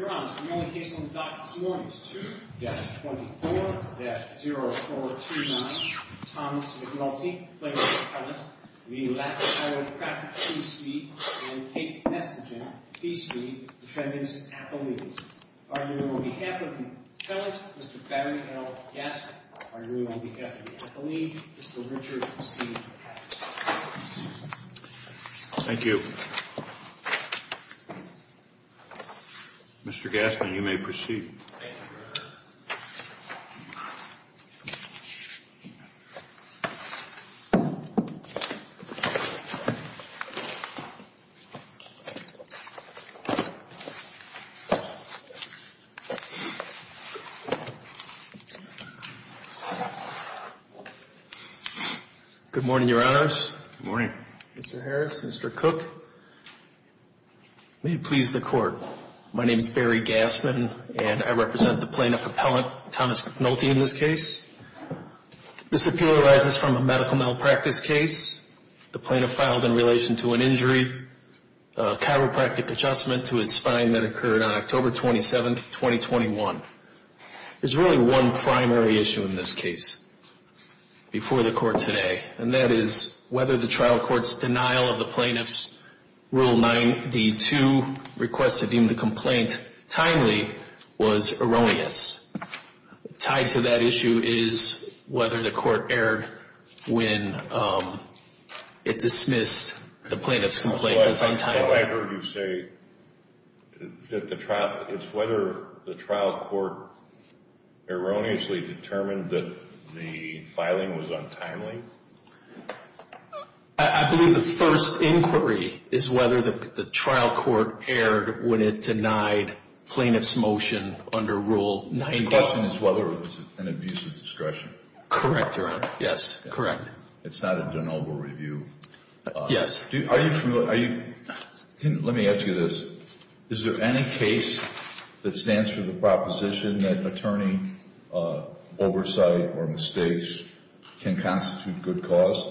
and Kate Nesbitton, P.C., defendants at the lead. Arguing on behalf of the defendants, Mr. Barry L. Gaskin. Arguing on behalf of the at the lead, Mr. Richard C. Patterson. Thank you. Mr. Gaskin. Mr. Gaskin, you may proceed. Good morning, Your Honors. Good morning. Mr. Harris, Mr. Cook. May it please the Court. My name is Barry Gaskin, and I represent the plaintiff appellant, Thomas Nulte, in this case. This appeal arises from a medical malpractice case the plaintiff filed in relation to an injury, a chiropractic adjustment to his spine that occurred on October 27, 2021. There's really one primary issue in this case before the Court today, and that is whether the trial court's denial of the plaintiff's Rule 9D2 request to deem the complaint timely was erroneous. Tied to that issue is whether the Court erred when it dismissed the plaintiff's complaint as untimely. If I heard you say that the trial, it's whether the trial court erroneously determined that the filing was untimely? I believe the first inquiry is whether the trial court erred when it denied plaintiff's motion under Rule 9D2. The question is whether it was an abuse of discretion. Correct, Your Honor. Yes, correct. It's not a de novo review. Yes. Are you familiar? Let me ask you this. Is there any case that stands for the proposition that attorney oversight or mistakes can constitute good cause?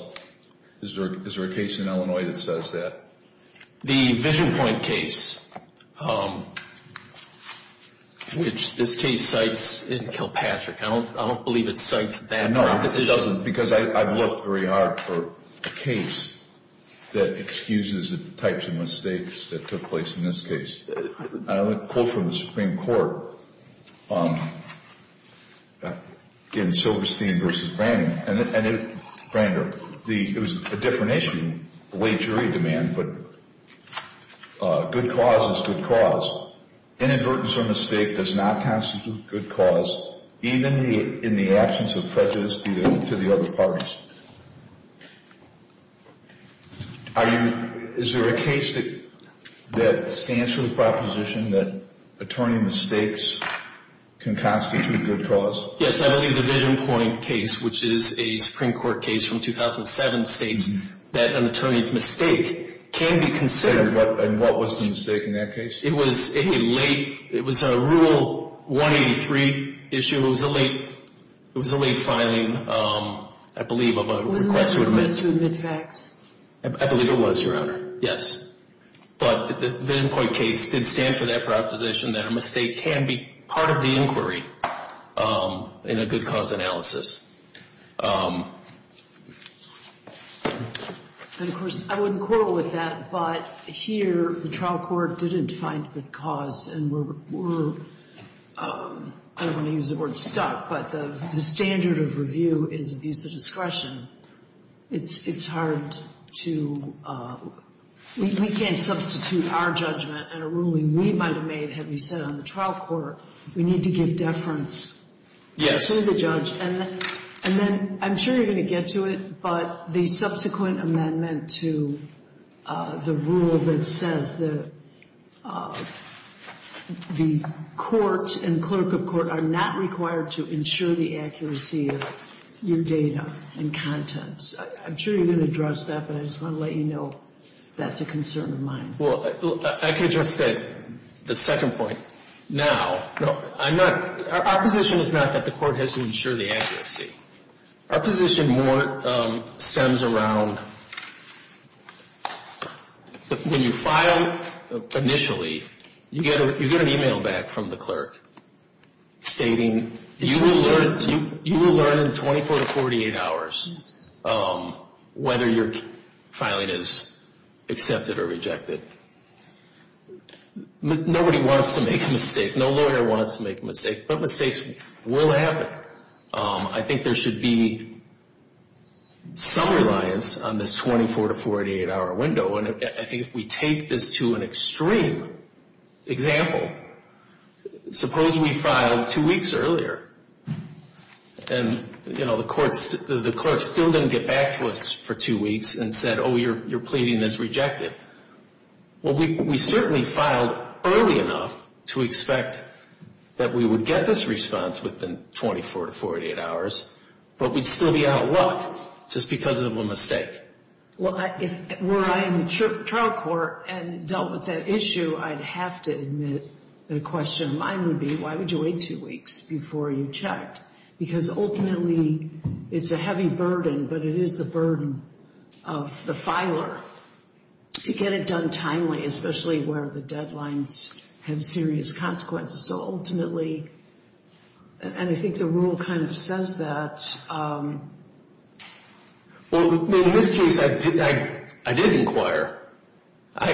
Is there a case in Illinois that says that? The Vision Point case, which this case cites in Kilpatrick. I don't believe it cites that proposition. It doesn't because I've looked very hard for a case that excuses the types of mistakes that took place in this case. I have a quote from the Supreme Court in Silverstein v. Brander. It was a different issue, the way jury demand, but good cause is good cause. Inadvertence or mistake does not constitute good cause, even in the absence of prejudice to the other parties. Is there a case that stands for the proposition that attorney mistakes can constitute good cause? Yes, I believe the Vision Point case, which is a Supreme Court case from 2007, states that an attorney's mistake can be considered. And what was the mistake in that case? It was in late, it was a Rule 183 issue. It was a late, it was a late filing, I believe, of a request to admit. It was a request to admit facts. I believe it was, Your Honor. Yes. But the Vision Point case did stand for that proposition that a mistake can be part of the inquiry in a good cause analysis. And, of course, I wouldn't quarrel with that, but here the trial court didn't find good cause and we're, I don't want to use the word stuck, but the standard of review is abuse of discretion. It's hard to, we can't substitute our judgment in a ruling we might have made had we sat on the trial court. We need to give deference to the judge. And then I'm sure you're going to get to it, but the subsequent amendment to the rule that says that the court and clerk of court are not required to ensure the accuracy of your data and contents. I'm sure you're going to address that, but I just want to let you know that's a concern of mine. Well, I can address that, the second point. Now, I'm not, our position is not that the court has to ensure the accuracy. Our position more stems around when you file initially, you get an e-mail back from the clerk stating you will learn in 24 to 48 hours whether your filing is accepted or rejected. Nobody wants to make a mistake. No lawyer wants to make a mistake, but mistakes will happen. I think there should be some reliance on this 24 to 48 hour window. And I think if we take this to an extreme example, suppose we filed two weeks earlier and, you know, the court still didn't get back to us for two weeks and said, oh, you're pleading as rejected. Well, we certainly filed early enough to expect that we would get this response within 24 to 48 hours, but we'd still be out of luck just because of a mistake. Well, were I in the trial court and dealt with that issue, I'd have to admit that a question of mine would be, why would you wait two weeks before you checked? Because ultimately, it's a heavy burden, but it is the burden of the filer to get it done timely, especially where the deadlines have serious consequences. So ultimately, and I think the rule kind of says that. Well, in this case, I did inquire. I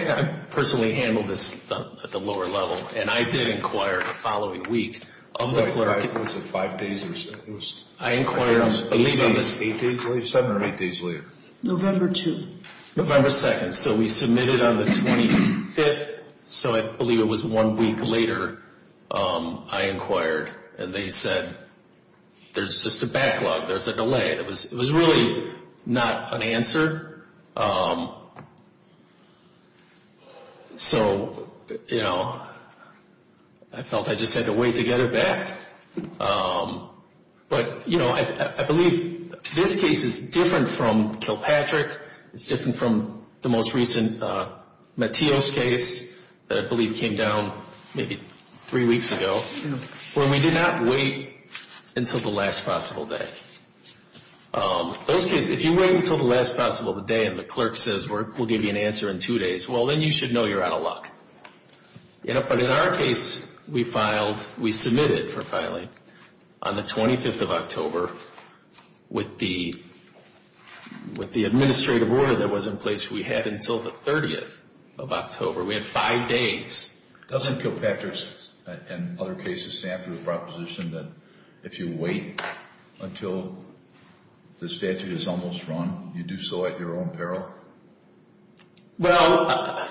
personally handled this at the lower level, and I did inquire the following week. It was five days or so. I inquired on the 7th or 8th days later. November 2nd. November 2nd. So we submitted on the 25th, so I believe it was one week later I inquired, and they said, there's just a backlog. There's a delay. It was really not an answer. So, you know, I felt I just had to wait to get it back. But, you know, I believe this case is different from Kilpatrick. It's different from the most recent Matios case that I believe came down maybe three weeks ago, where we did not wait until the last possible day. Those cases, if you wait until the last possible day and the clerk says we'll give you an answer in two days, well, then you should know you're out of luck. But in our case, we filed, we submitted for filing on the 25th of October with the administrative order that was in place we had until the 30th of October. We had five days. Doesn't Kilpatrick and other cases stand for the proposition that if you wait until the statute is almost drawn, you do so at your own peril? Well,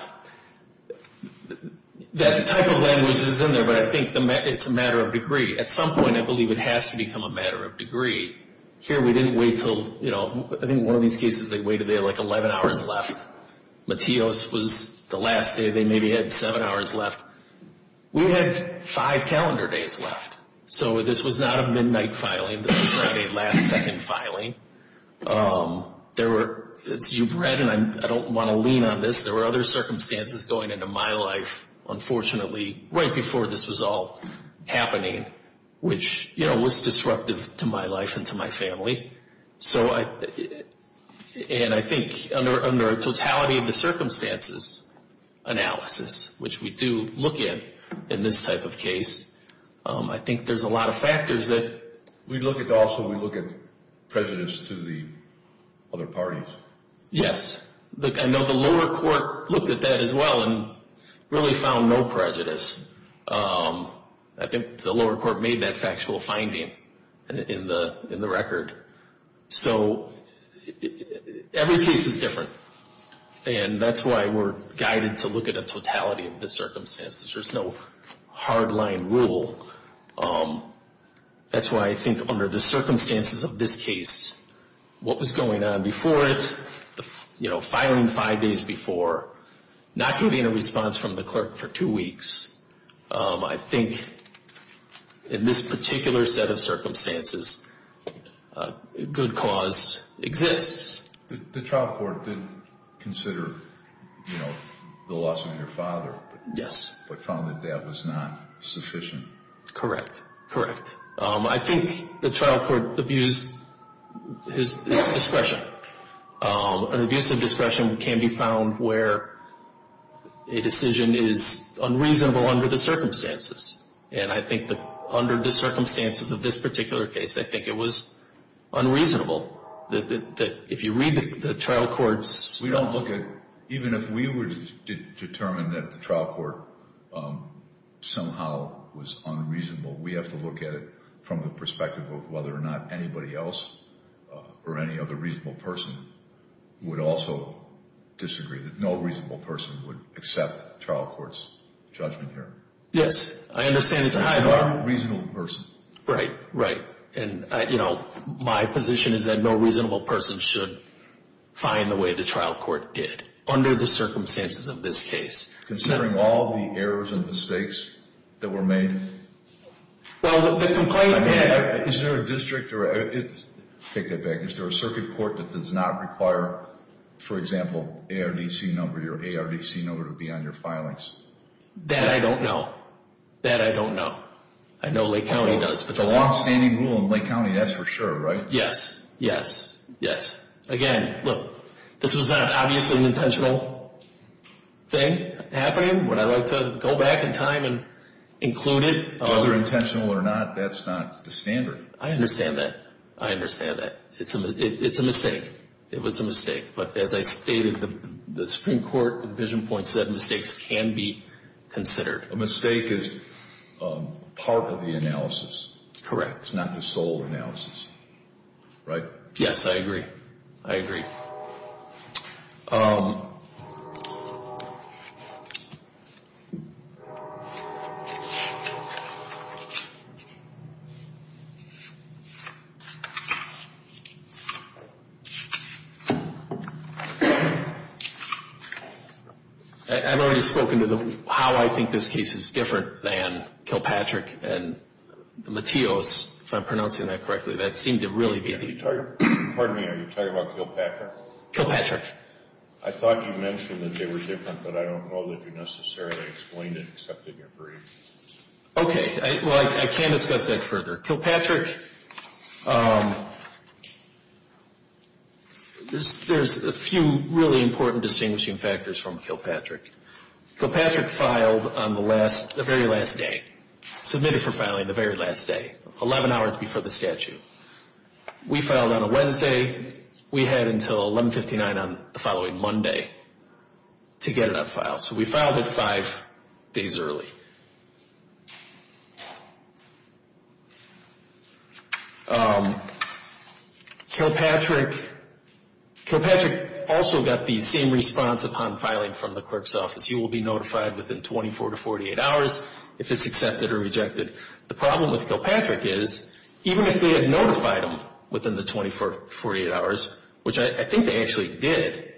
that type of language is in there, but I think it's a matter of degree. At some point, I believe it has to become a matter of degree. Here we didn't wait until, you know, I think one of these cases they waited, they had like 11 hours left. Matios was the last day. They maybe had seven hours left. We had five calendar days left. So this was not a midnight filing. This was not a last second filing. There were, as you've read, and I don't want to lean on this, there were other circumstances going into my life, unfortunately, right before this was all happening, which, you know, was disruptive to my life and to my family. So I, and I think under totality of the circumstances analysis, which we do look at in this type of case, I think there's a lot of factors that. We look at also, we look at prejudice to the other parties. Yes. I know the lower court looked at that as well and really found no prejudice. I think the lower court made that factual finding in the record. So every case is different. And that's why we're guided to look at a totality of the circumstances. There's no hard line rule. That's why I think under the circumstances of this case, what was going on before it, you know, filing five days before, not getting a response from the clerk for two weeks. I think in this particular set of circumstances, good cause exists. The trial court did consider, you know, the loss of your father. Yes. But found that that was not sufficient. Correct. Correct. I think the trial court abused his discretion. An abuse of discretion can be found where a decision is unreasonable under the circumstances. And I think that under the circumstances of this particular case, I think it was unreasonable that if you read the trial court's... Even if we were to determine that the trial court somehow was unreasonable, we have to look at it from the perspective of whether or not anybody else or any other reasonable person would also disagree, that no reasonable person would accept the trial court's judgment here. Yes. I understand. It's a reasonable person. Right. Right. And, you know, my position is that no reasonable person should find the way the trial court did under the circumstances of this case. Considering all the errors and mistakes that were made... Well, the complaint... Is there a district... take that back. Is there a circuit court that does not require, for example, ARDC number or ARDC number to be on your filings? That I don't know. That I don't know. I know Lake County does. It's a longstanding rule in Lake County, that's for sure, right? Yes. Yes. Yes. Again, look, this was not, obviously, an intentional thing happening. Would I like to go back in time and include it? Whether intentional or not, that's not the standard. I understand that. I understand that. It's a mistake. It was a mistake. But as I stated, the Supreme Court, the vision point said mistakes can be considered. A mistake is part of the analysis. It's not the sole analysis, right? Yes, I agree. I agree. I've already spoken to how I think this case is different than Kilpatrick and Mateos, if I'm pronouncing that correctly. That seemed to really be the... Pardon me. Are you talking about Kilpatrick? Kilpatrick. I thought you mentioned that they were different, but I don't know that you necessarily explained it except in your brief. Okay. Well, I can't discuss that further. Kilpatrick, there's a few really important distinguishing factors from Kilpatrick. Kilpatrick filed on the last, the very last day, submitted for filing the very last day, 11 hours before the statute. We filed on a Wednesday. We had until 1159 on the following Monday to get it on file. So we filed it five days early. Kilpatrick also got the same response upon filing from the clerk's office. You will be notified within 24 to 48 hours if it's accepted or rejected. The problem with Kilpatrick is even if we had notified him within the 24 to 48 hours, which I think they actually did,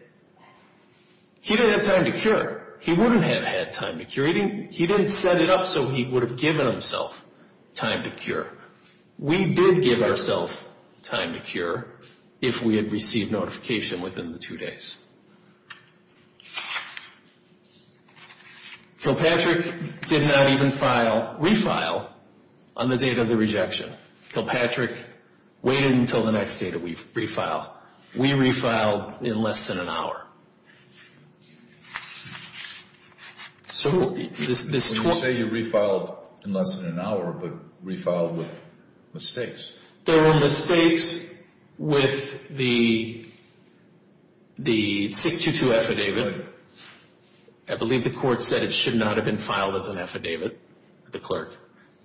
he didn't have time to cure. He wouldn't have had time to cure. He didn't set it up so he would have given himself time to cure. We did give ourself time to cure if we had received notification within the two days. Kilpatrick did not even file, refile, on the date of the rejection. Kilpatrick waited until the next day to refile. We refiled in less than an hour. So this 24- When you say you refiled in less than an hour, but refiled with mistakes. There were mistakes with the 622 affidavit. I believe the court said it should not have been filed as an affidavit with the clerk.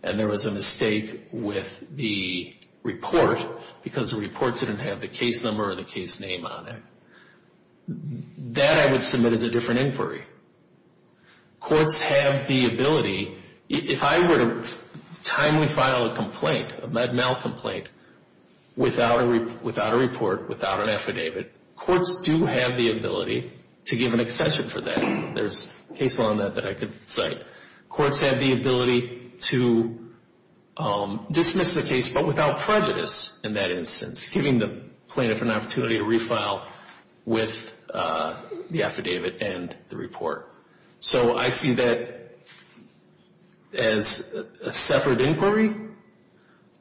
And there was a mistake with the report because the report didn't have the case number or the case name on it. That I would submit as a different inquiry. Courts have the ability- If I were to timely file a complaint, a Med-Mal complaint, without a report, without an affidavit, courts do have the ability to give an extension for that. There's a case law on that that I could cite. Courts have the ability to dismiss the case, but without prejudice in that instance, giving the plaintiff an opportunity to refile with the affidavit and the report. So I see that as a separate inquiry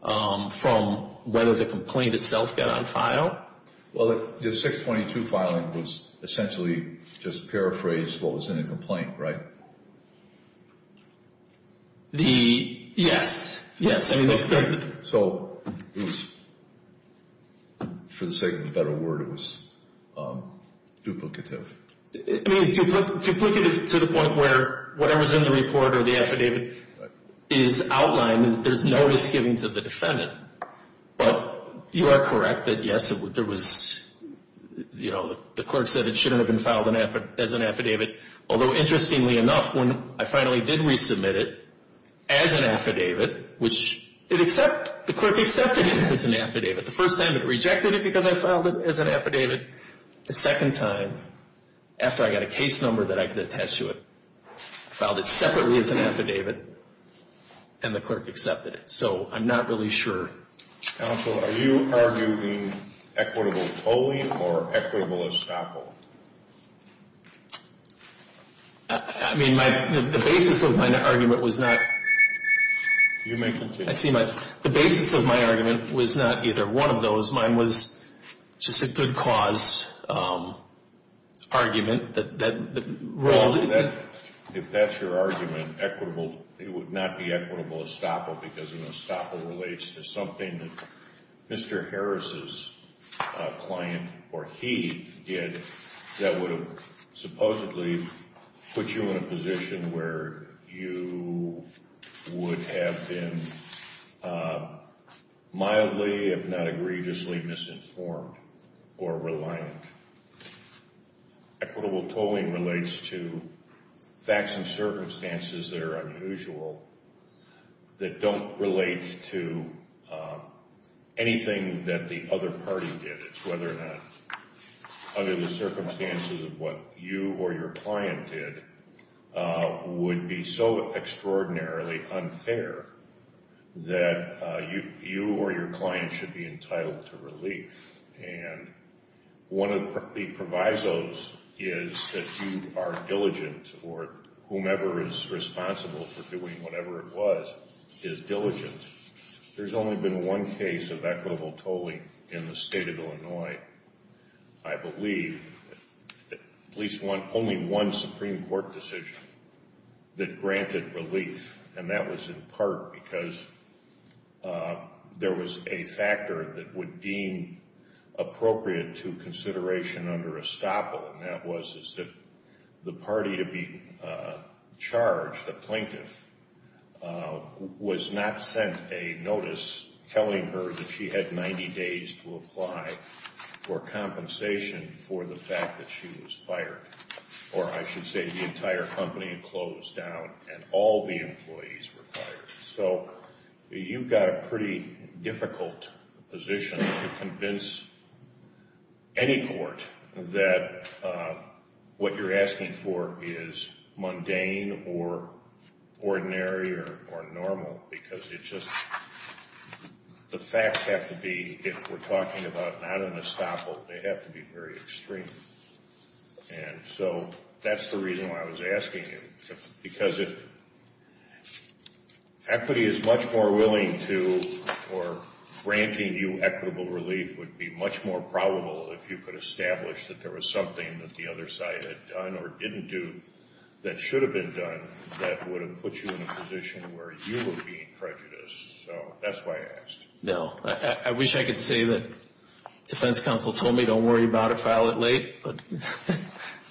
from whether the complaint itself got on file. Well, the 622 filing was essentially just paraphrased what was in the complaint, right? Yes. So it was, for the sake of a better word, it was duplicative. I mean, duplicative to the point where whatever's in the report or the affidavit is outlined. There's no misgiving to the defendant. But you are correct that, yes, there was, you know, the clerk said it shouldn't have been filed as an affidavit. Although, interestingly enough, when I finally did resubmit it as an affidavit, which the clerk accepted it as an affidavit. The first time it rejected it because I filed it as an affidavit. The second time, after I got a case number that I could attach to it, I filed it separately as an affidavit, and the clerk accepted it. So I'm not really sure. Counsel, are you arguing equitable tolling or equitable estoppel? I mean, the basis of my argument was not. You may continue. I see. The basis of my argument was not either one of those. Mine was just a good cause argument. If that's your argument, equitable, it would not be equitable estoppel because, you know, that would have supposedly put you in a position where you would have been mildly, if not egregiously, misinformed or reliant. Equitable tolling relates to facts and circumstances that are unusual that don't relate to anything that the other party did. It's whether or not, under the circumstances of what you or your client did, would be so extraordinarily unfair that you or your client should be entitled to relief. And one of the provisos is that you are diligent or whomever is responsible for doing whatever it was is diligent. There's only been one case of equitable tolling in the state of Illinois, I believe, at least only one Supreme Court decision that granted relief, and that was in part because there was a factor that would deem appropriate to consideration under estoppel, and that was that the party to be charged, the plaintiff, was not sent a notice telling her that she had 90 days to apply for compensation for the fact that she was fired. Or I should say the entire company closed down and all the employees were fired. So you've got a pretty difficult position to convince any court that what you're asking for is mundane or ordinary or normal, because it's just the facts have to be, if we're talking about not an estoppel, they have to be very extreme. And so that's the reason why I was asking you, because if equity is much more willing to or granting you equitable relief would be much more probable if you could establish that there was something that the other side had done or didn't do that should have been done that would have put you in a position where you were being prejudiced. So that's why I asked. No. I wish I could say that defense counsel told me don't worry about it, file it late, but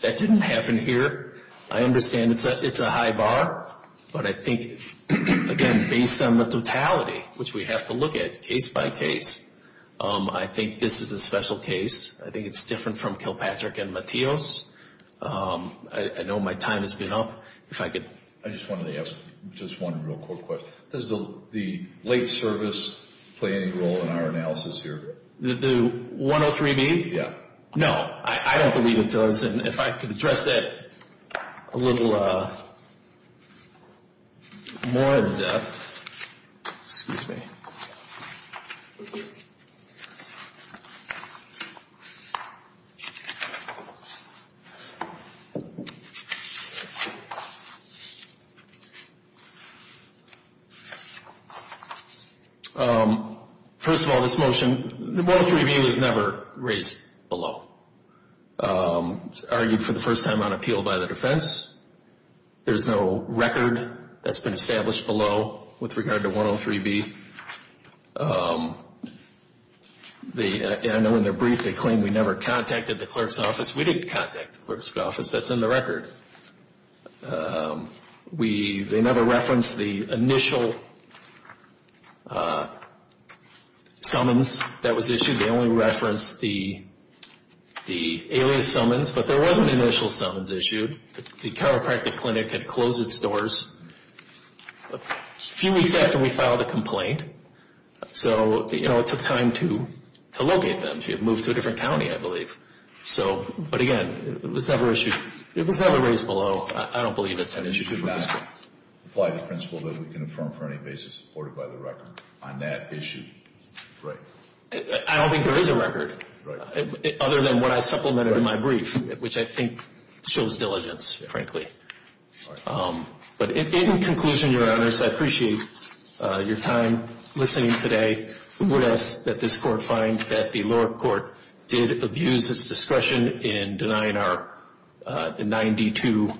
that didn't happen here. I understand it's a high bar, but I think, again, based on the totality, which we have to look at case by case, I think this is a special case. I think it's different from Kilpatrick and Mateos. I know my time has been up. I just wanted to ask just one real quick question. Does the late service play any role in our analysis here? The 103B? Yeah. No. I don't believe it does. And if I could address that a little more in depth. Excuse me. First of all, this motion, the 103B was never raised below. It was argued for the first time on appeal by the defense. There's no record that's been established below with regard to 103B. I know in their brief they claim we never contacted the clerk's office. We didn't contact the clerk's office. That's in the record. They never referenced the initial summons that was issued. They only referenced the alias summons, but there was an initial summons issued. The chiropractic clinic had closed its doors a few weeks after we filed a complaint. So, you know, it took time to locate them. They had moved to a different county, I believe. But, again, it was never raised below. I don't believe it's an issue. I don't think there is a record, other than what I supplemented in my brief, which I think shows diligence, frankly. But in conclusion, Your Honors, I appreciate your time listening today. We would ask that this court find that the lower court did abuse its discretion in denying our 9D2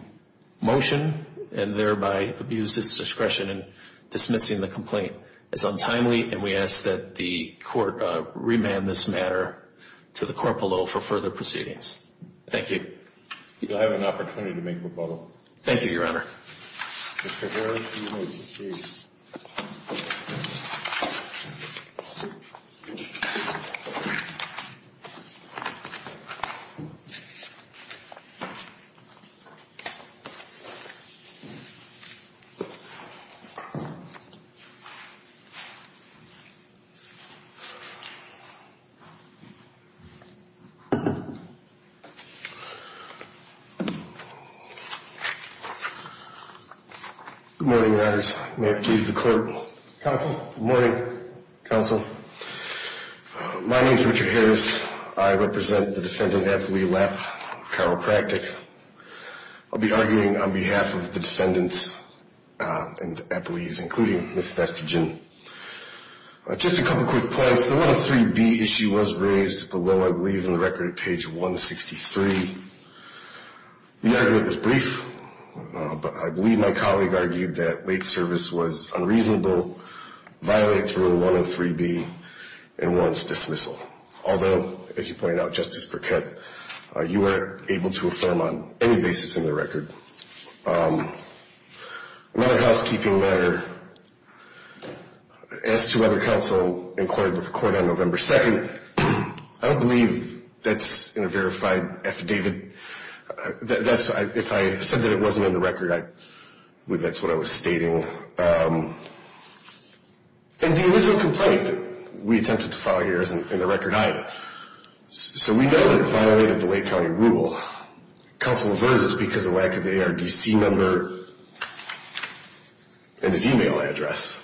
motion and thereby abuse its discretion in dismissing the complaint as untimely, and we ask that the court remand this matter to the court below for further proceedings. Thank you. I have an opportunity to make rebuttal. Thank you, Your Honor. Mr. Heron, you may proceed. Good morning, Your Honors. May it please the court. Counsel. Good morning, Counsel. My name is Richard Harris. I represent the defendant, Eppley Lapp, chiropractic. I'll be arguing on behalf of the defendants and Eppley's, including Ms. Vestigin. Just a couple quick points. The 103B issue was raised below, I believe, in the record at page 163. The argument was brief, but I believe my colleague argued that late service was unreasonable, violates Rule 103B, and warrants dismissal. Although, as you pointed out, Justice Burkett, you were able to affirm on any basis in the record. Another housekeeping matter, as to whether counsel inquired with the court on November 2nd, I don't believe that's in a verified affidavit. If I said that it wasn't in the record, I believe that's what I was stating. And the original complaint that we attempted to file here isn't in the record either. So we know that it violated the Lake County Rule. Counsel averses because of lack of the ARDC number and his e-mail address.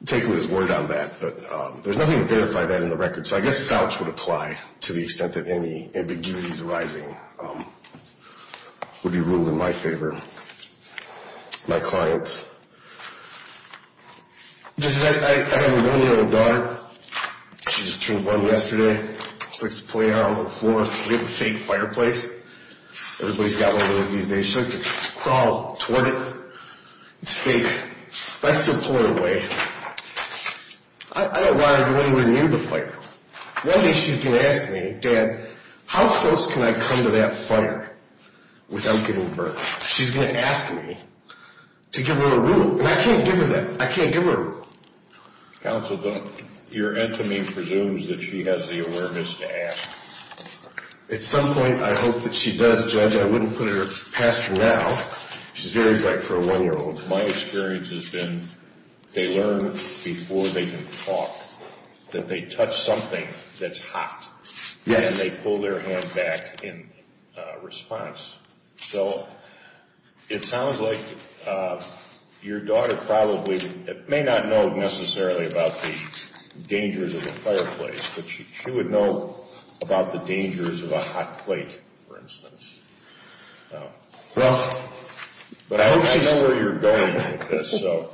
I'm taking his word on that, but there's nothing to verify that in the record. So I guess Fouch would apply to the extent that any ambiguities arising would be ruled in my favor, my clients. I have a one-year-old daughter. She just turned one yesterday. She likes to play on the floor. We have a fake fireplace. Everybody's got one of those these days. She likes to crawl toward it. It's fake. But I still pull her away. I don't want her to go anywhere near the fire. One day she's going to ask me, Dad, how close can I come to that fire without getting burned? She's going to ask me to give her a rule. And I can't give her that. I can't give her a rule. Counsel, your enemy presumes that she has the awareness to ask. At some point, I hope that she does, Judge. I wouldn't put her past her now. She's very bright for a one-year-old. My experience has been they learn before they can talk that they touch something that's hot. Yes. And they pull their hand back in response. So it sounds like your daughter probably may not know necessarily about the dangers of a fireplace, but she would know about the dangers of a hot plate, for instance. Well, I hope she's... I know where you're going with this, so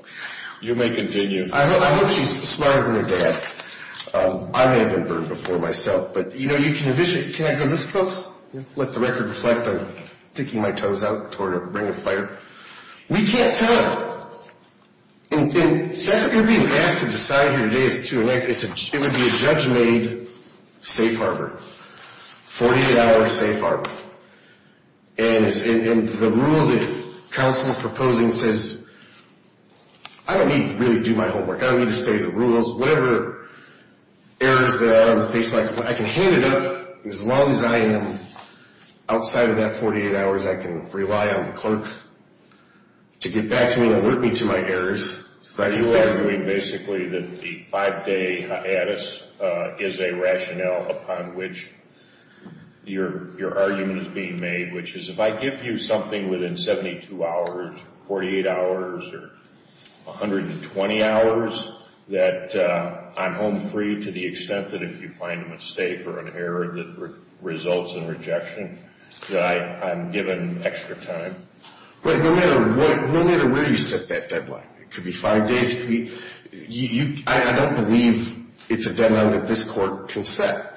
you may continue. I hope she's smarter than her dad. I may have been burned before myself. But, you know, you can envision... Can I come this close? Let the record reflect on sticking my toes out toward a ring of fire. We can't tell her. And you're being asked to decide who it is, too. It would be a judge-made safe harbor, 48-hour safe harbor. And the rule that counsel is proposing says I don't need to really do my homework. I don't need to study the rules. Whatever errors there are on the face of my complaint, I can hand it up. As long as I am outside of that 48 hours, I can rely on the clerk to get back to me and alert me to my errors. Are you arguing basically that the five-day hiatus is a rationale upon which your argument is being made, which is if I give you something within 72 hours, 48 hours, or 120 hours, that I'm home free to the extent that if you find a mistake or an error that results in rejection, that I'm given extra time? Right, no matter where you set that deadline. It could be five days. I don't believe it's a deadline that this court can set.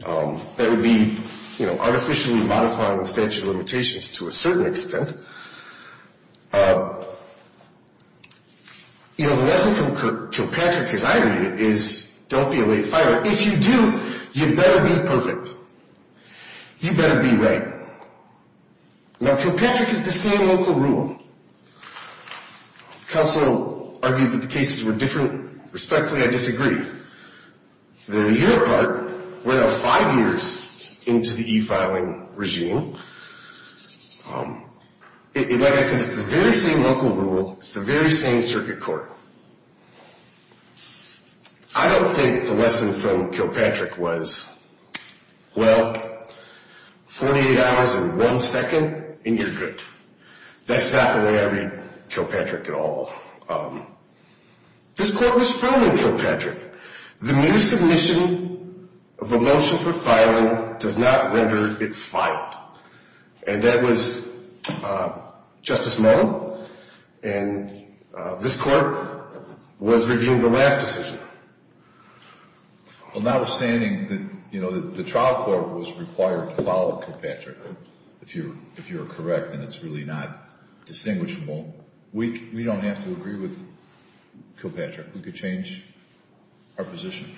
That would be, you know, artificially modifying the statute of limitations to a certain extent. You know, the lesson from Kilpatrick, as I read it, is don't be a late fire. If you do, you better be perfect. You better be right. Now, Kilpatrick is the same local rule. Counsel argued that the cases were different. Respectfully, I disagree. They're a year apart. We're now five years into the e-filing regime. Like I said, it's the very same local rule. It's the very same circuit court. I don't think the lesson from Kilpatrick was, well, 48 hours and one second, and you're good. That's not the way I read Kilpatrick at all. This court was founded in Kilpatrick. The mere submission of a motion for filing does not render it filed. And that was Justice Mullen. And this court was reviewing the last decision. Well, notwithstanding that, you know, the trial court was required to follow Kilpatrick, if you're correct and it's really not distinguishable, we don't have to agree with Kilpatrick. We could change our position.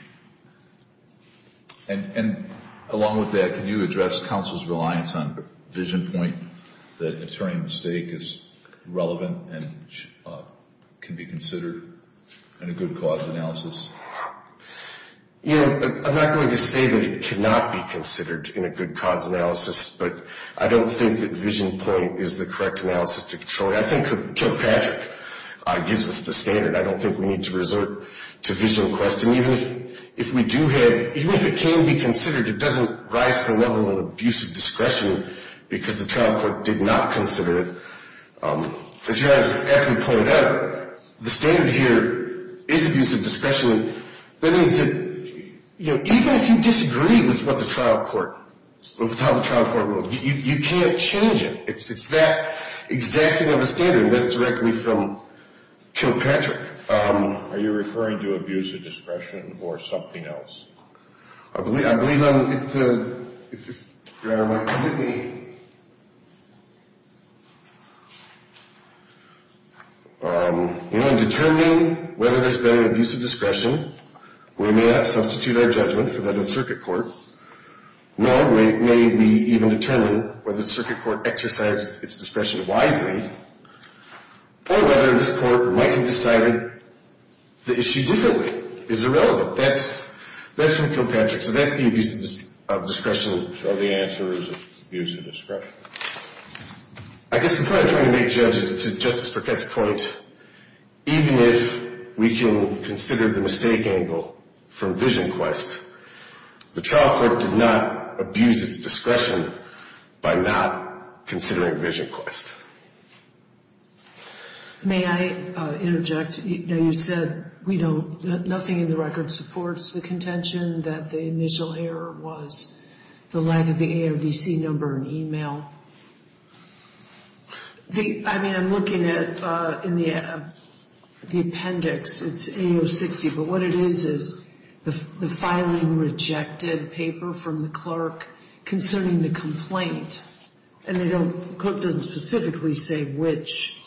And along with that, can you address counsel's reliance on vision point, that an attorney at stake is relevant and can be considered in a good cause analysis? You know, I'm not going to say that it cannot be considered in a good cause analysis, but I don't think that vision point is the correct analysis to control it. I think Kilpatrick gives us the standard. I don't think we need to resort to vision request. And even if we do have, even if it can be considered, it doesn't rise to the level of abusive discretion because the trial court did not consider it. As you guys actually pointed out, the standard here is abusive discretion. That means that, you know, even if you disagree with what the trial court, with how the trial court ruled, you can't change it. It's that exacting of a standard. And that's directly from Kilpatrick. Are you referring to abusive discretion or something else? I believe I'm, if you're on my committee, you know, in determining whether there's been an abusive discretion, we may not substitute our judgment for that of the circuit court. Nor may we even determine whether the circuit court exercised its discretion wisely or whether this court might have decided the issue differently. It's irrelevant. That's from Kilpatrick. So that's the abuse of discretion. So the answer is abusive discretion. I guess the point I'm trying to make, Judge, is to Justice Burkett's point, even if we can consider the mistake angle from vision quest, the trial court did not abuse its discretion by not considering vision quest. May I interject? You know, you said we don't, nothing in the record supports the contention that the initial error was the lack of the AODC number in email. I mean, I'm looking at, in the appendix, it's AO60. But what it is is the filing rejected paper from the clerk concerning the complaint. And the clerk doesn't specifically say which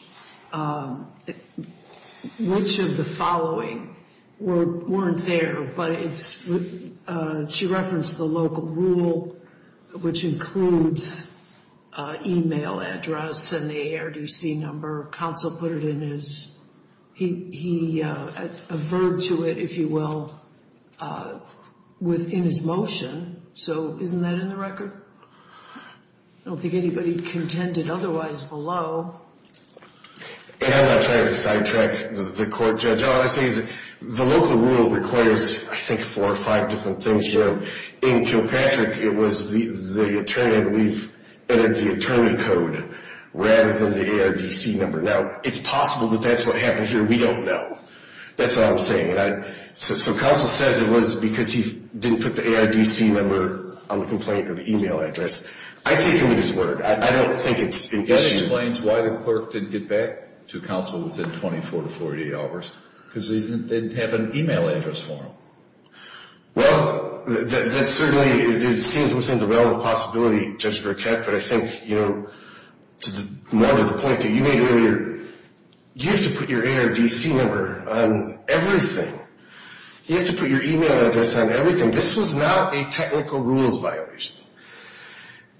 of the following weren't there. But she referenced the local rule, which includes email address and the AODC number. Counsel put it in his, he averred to it, if you will, within his motion. So isn't that in the record? I don't think anybody contended otherwise below. And I'm not trying to sidetrack the court, Judge. All I'm saying is the local rule requires, I think, four or five different things here. In Kilpatrick, it was the attorney, I believe, entered the attorney code rather than the AODC number. Now, it's possible that that's what happened here. We don't know. That's all I'm saying. So counsel says it was because he didn't put the AODC number on the complaint or the email address. I take him at his word. I don't think it's an issue. That explains why the clerk didn't get back to counsel within 24 to 48 hours, because they didn't have an email address for him. Well, that certainly seems within the realm of possibility, Judge Burkett. But I think, you know, more to the point that you made earlier, you have to put your AODC number on everything. You have to put your email address on everything. This was not a technical rules violation.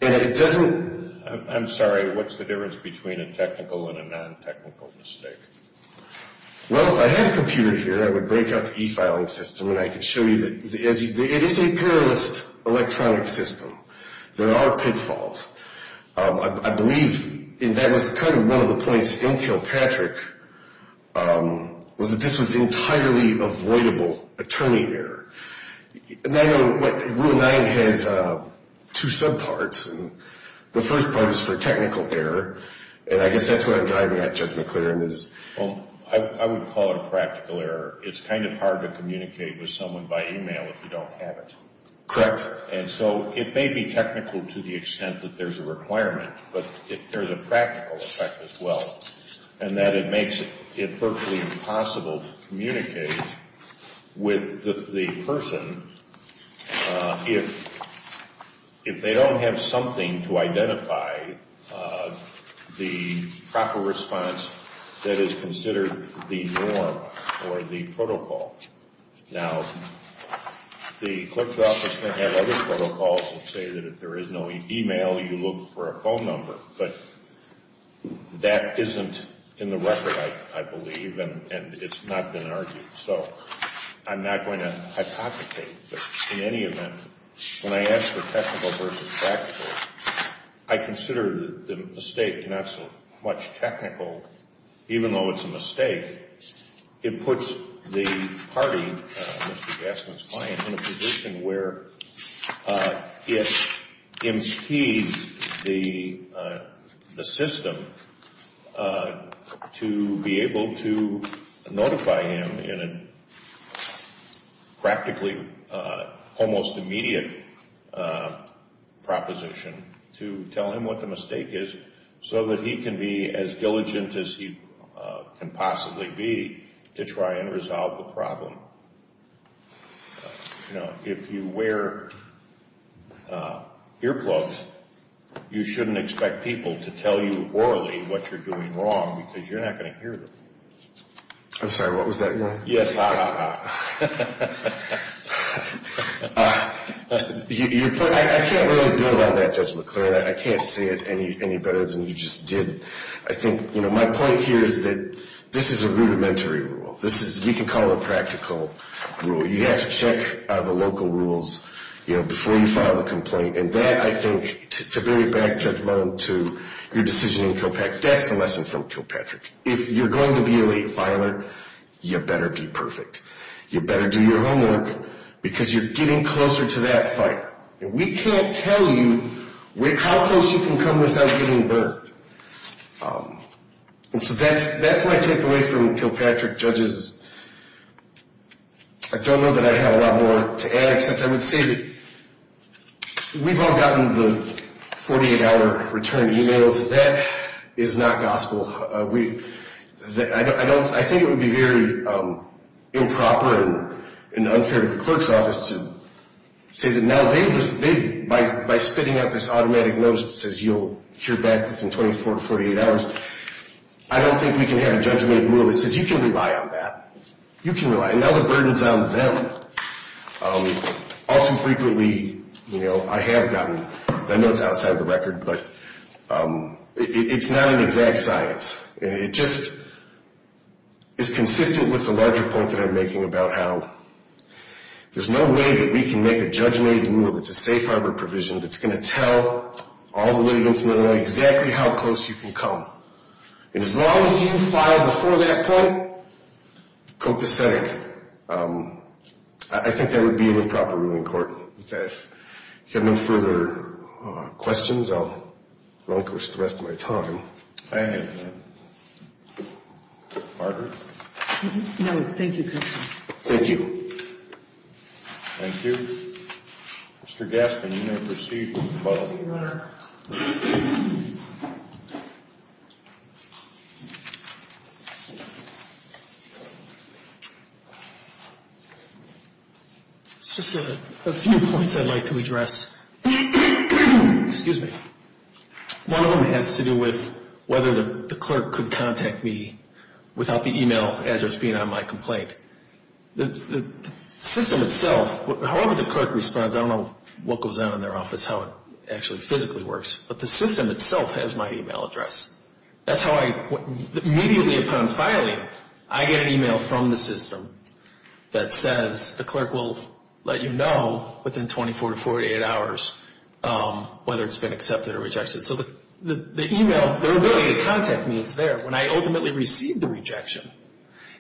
And it doesn't – I'm sorry. What's the difference between a technical and a non-technical mistake? Well, if I had a computer here, I would break out the e-filing system, and I could show you that it is a perilous electronic system. There are pitfalls. I believe that was kind of one of the points in Kilpatrick was that this was entirely avoidable attorney error. And I know Rule 9 has two subparts. The first part is for technical error, and I guess that's what I'm driving at, Judge McClaren, is – Well, I would call it a practical error. It's kind of hard to communicate with someone by email if you don't have it. Correct. And so it may be technical to the extent that there's a requirement, but there's a practical effect as well, in that it makes it virtually impossible to communicate with the person if they don't have something to identify the proper response that is considered the norm or the protocol. Now, the clerk's office may have other protocols that say that if there is no email, you look for a phone number, but that isn't in the record, I believe, and it's not been argued. So I'm not going to hypothecate, but in any event, when I ask for technical versus practical, I consider the mistake not so much technical. Even though it's a mistake, it puts the party, Mr. Gassman's client, in a position where it impedes the system to be able to notify him in a practically almost immediate proposition to tell him what the mistake is so that he can be as diligent as he can possibly be to try and resolve the problem. If you wear earplugs, you shouldn't expect people to tell you orally what you're doing wrong because you're not going to hear them. I'm sorry, what was that again? Yes, ha, ha, ha. I can't really build on that, Judge McLean. I can't say it any better than you just did. My point here is that this is a rudimentary rule. You can call it a practical rule. You have to check the local rules before you file a complaint, and that, I think, to bring it back, Judge Mullen, to your decision in Kilpatrick, that's the lesson from Kilpatrick. If you're going to be a late filer, you better be perfect. You better do your homework because you're getting closer to that fight. And we can't tell you how close you can come without getting burned. And so that's my takeaway from Kilpatrick, judges. I don't know that I have a lot more to add, except I would say that we've all gotten the 48-hour return emails. That is not gospel. I think it would be very improper and unfair to the clerk's office to say that now they've, by spitting out this automatic notice that says you'll hear back within 24 to 48 hours, I don't think we can have a judgment of rule that says you can rely on that. You can rely. And now the burden's on them. All too frequently, you know, I have gotten, I know it's outside the record, but it's not an exact science. And it just is consistent with the larger point that I'm making about how there's no way that we can make a judge-made rule that's a safe harbor provision that's going to tell all the litigants in Illinois exactly how close you can come. And as long as you file before that point, copacetic, I think that would be an improper rule in court. If you have no further questions, I'll relinquish the rest of my time. Thank you. No, thank you, Counselor. Thank you. Thank you. Mr. Gaskin, you may proceed with the vote. Just a few points I'd like to address. Excuse me. One of them has to do with whether the clerk could contact me without the e-mail address being on my complaint. The system itself, however the clerk responds, I don't know what goes on in their office, how it actually physically works, but the system itself has my e-mail address. That's how I immediately upon filing, I get an e-mail from the system that says, the clerk will let you know within 24 to 48 hours whether it's been accepted or rejected. So the e-mail, their ability to contact me is there. When I ultimately received the rejection,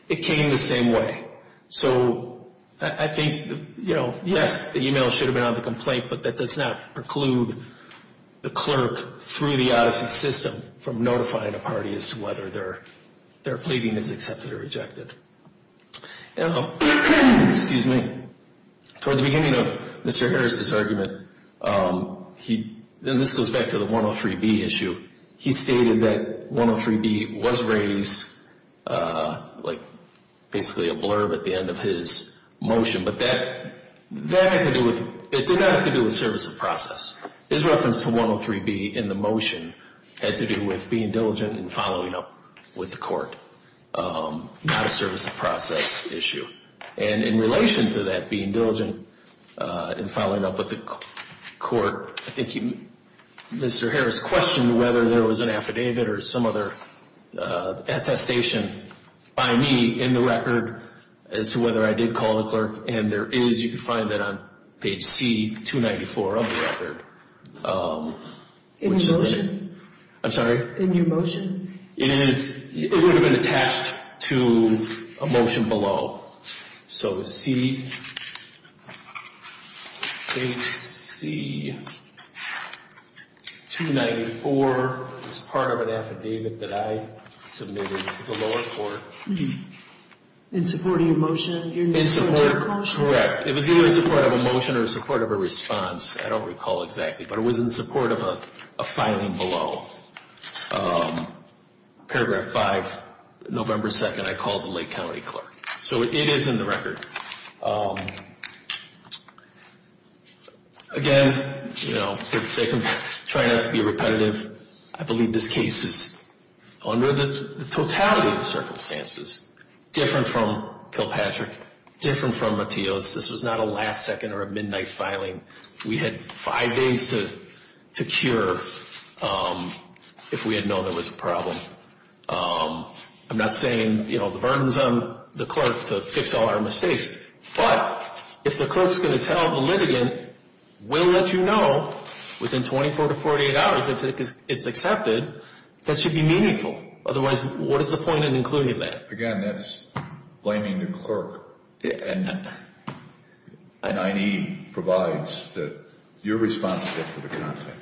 it came the same way. So I think, you know, yes, the e-mail should have been on the complaint, but that does not preclude the clerk through the Odyssey system from notifying a party as to whether their pleading is accepted or rejected. Excuse me. Toward the beginning of Mr. Harris' argument, and this goes back to the 103B issue, he stated that 103B was raised like basically a blurb at the end of his motion, but that had to do with, it did not have to do with service of process. His reference to 103B in the motion had to do with being diligent and following up with the court, not a service of process issue. And in relation to that, being diligent and following up with the court, I think Mr. Harris questioned whether there was an affidavit or some other attestation by me in the record as to whether I did call the clerk, and there is, you can find that on page C294 of the record. In your motion? I'm sorry? In your motion. It would have been attached to a motion below. So C-H-C-294 is part of an affidavit that I submitted to the lower court. In support of your motion? In support, correct. It was either in support of a motion or in support of a response. I don't recall exactly, but it was in support of a filing below. Paragraph 5, November 2nd, I called the Lake County clerk. So it is in the record. Again, for the sake of trying not to be repetitive, I believe this case is under the totality of circumstances, different from Kilpatrick, different from Mateos. This was not a last second or a midnight filing. We had five days to cure if we had known there was a problem. I'm not saying, you know, the burden is on the clerk to fix all our mistakes, but if the clerk is going to tell the litigant, we'll let you know within 24 to 48 hours if it's accepted, that should be meaningful. Otherwise, what is the point in including that? Again, that's blaming the clerk. And I need provides that you're responsible for the content.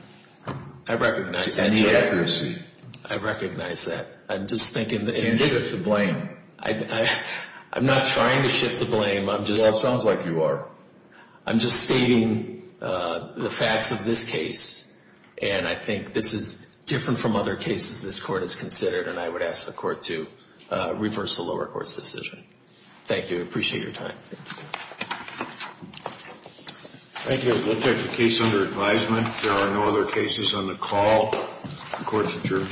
I recognize that. And the accuracy. I recognize that. I'm just thinking that in this. I'm not trying to shift the blame. Well, it sounds like you are. I'm just stating the facts of this case, and I think this is different from other cases this court has considered, and I would ask the court to reverse the lower court's decision. Thank you. I appreciate your time. Thank you. We'll take the case under advisement. There are no other cases on the call. The court is adjourned.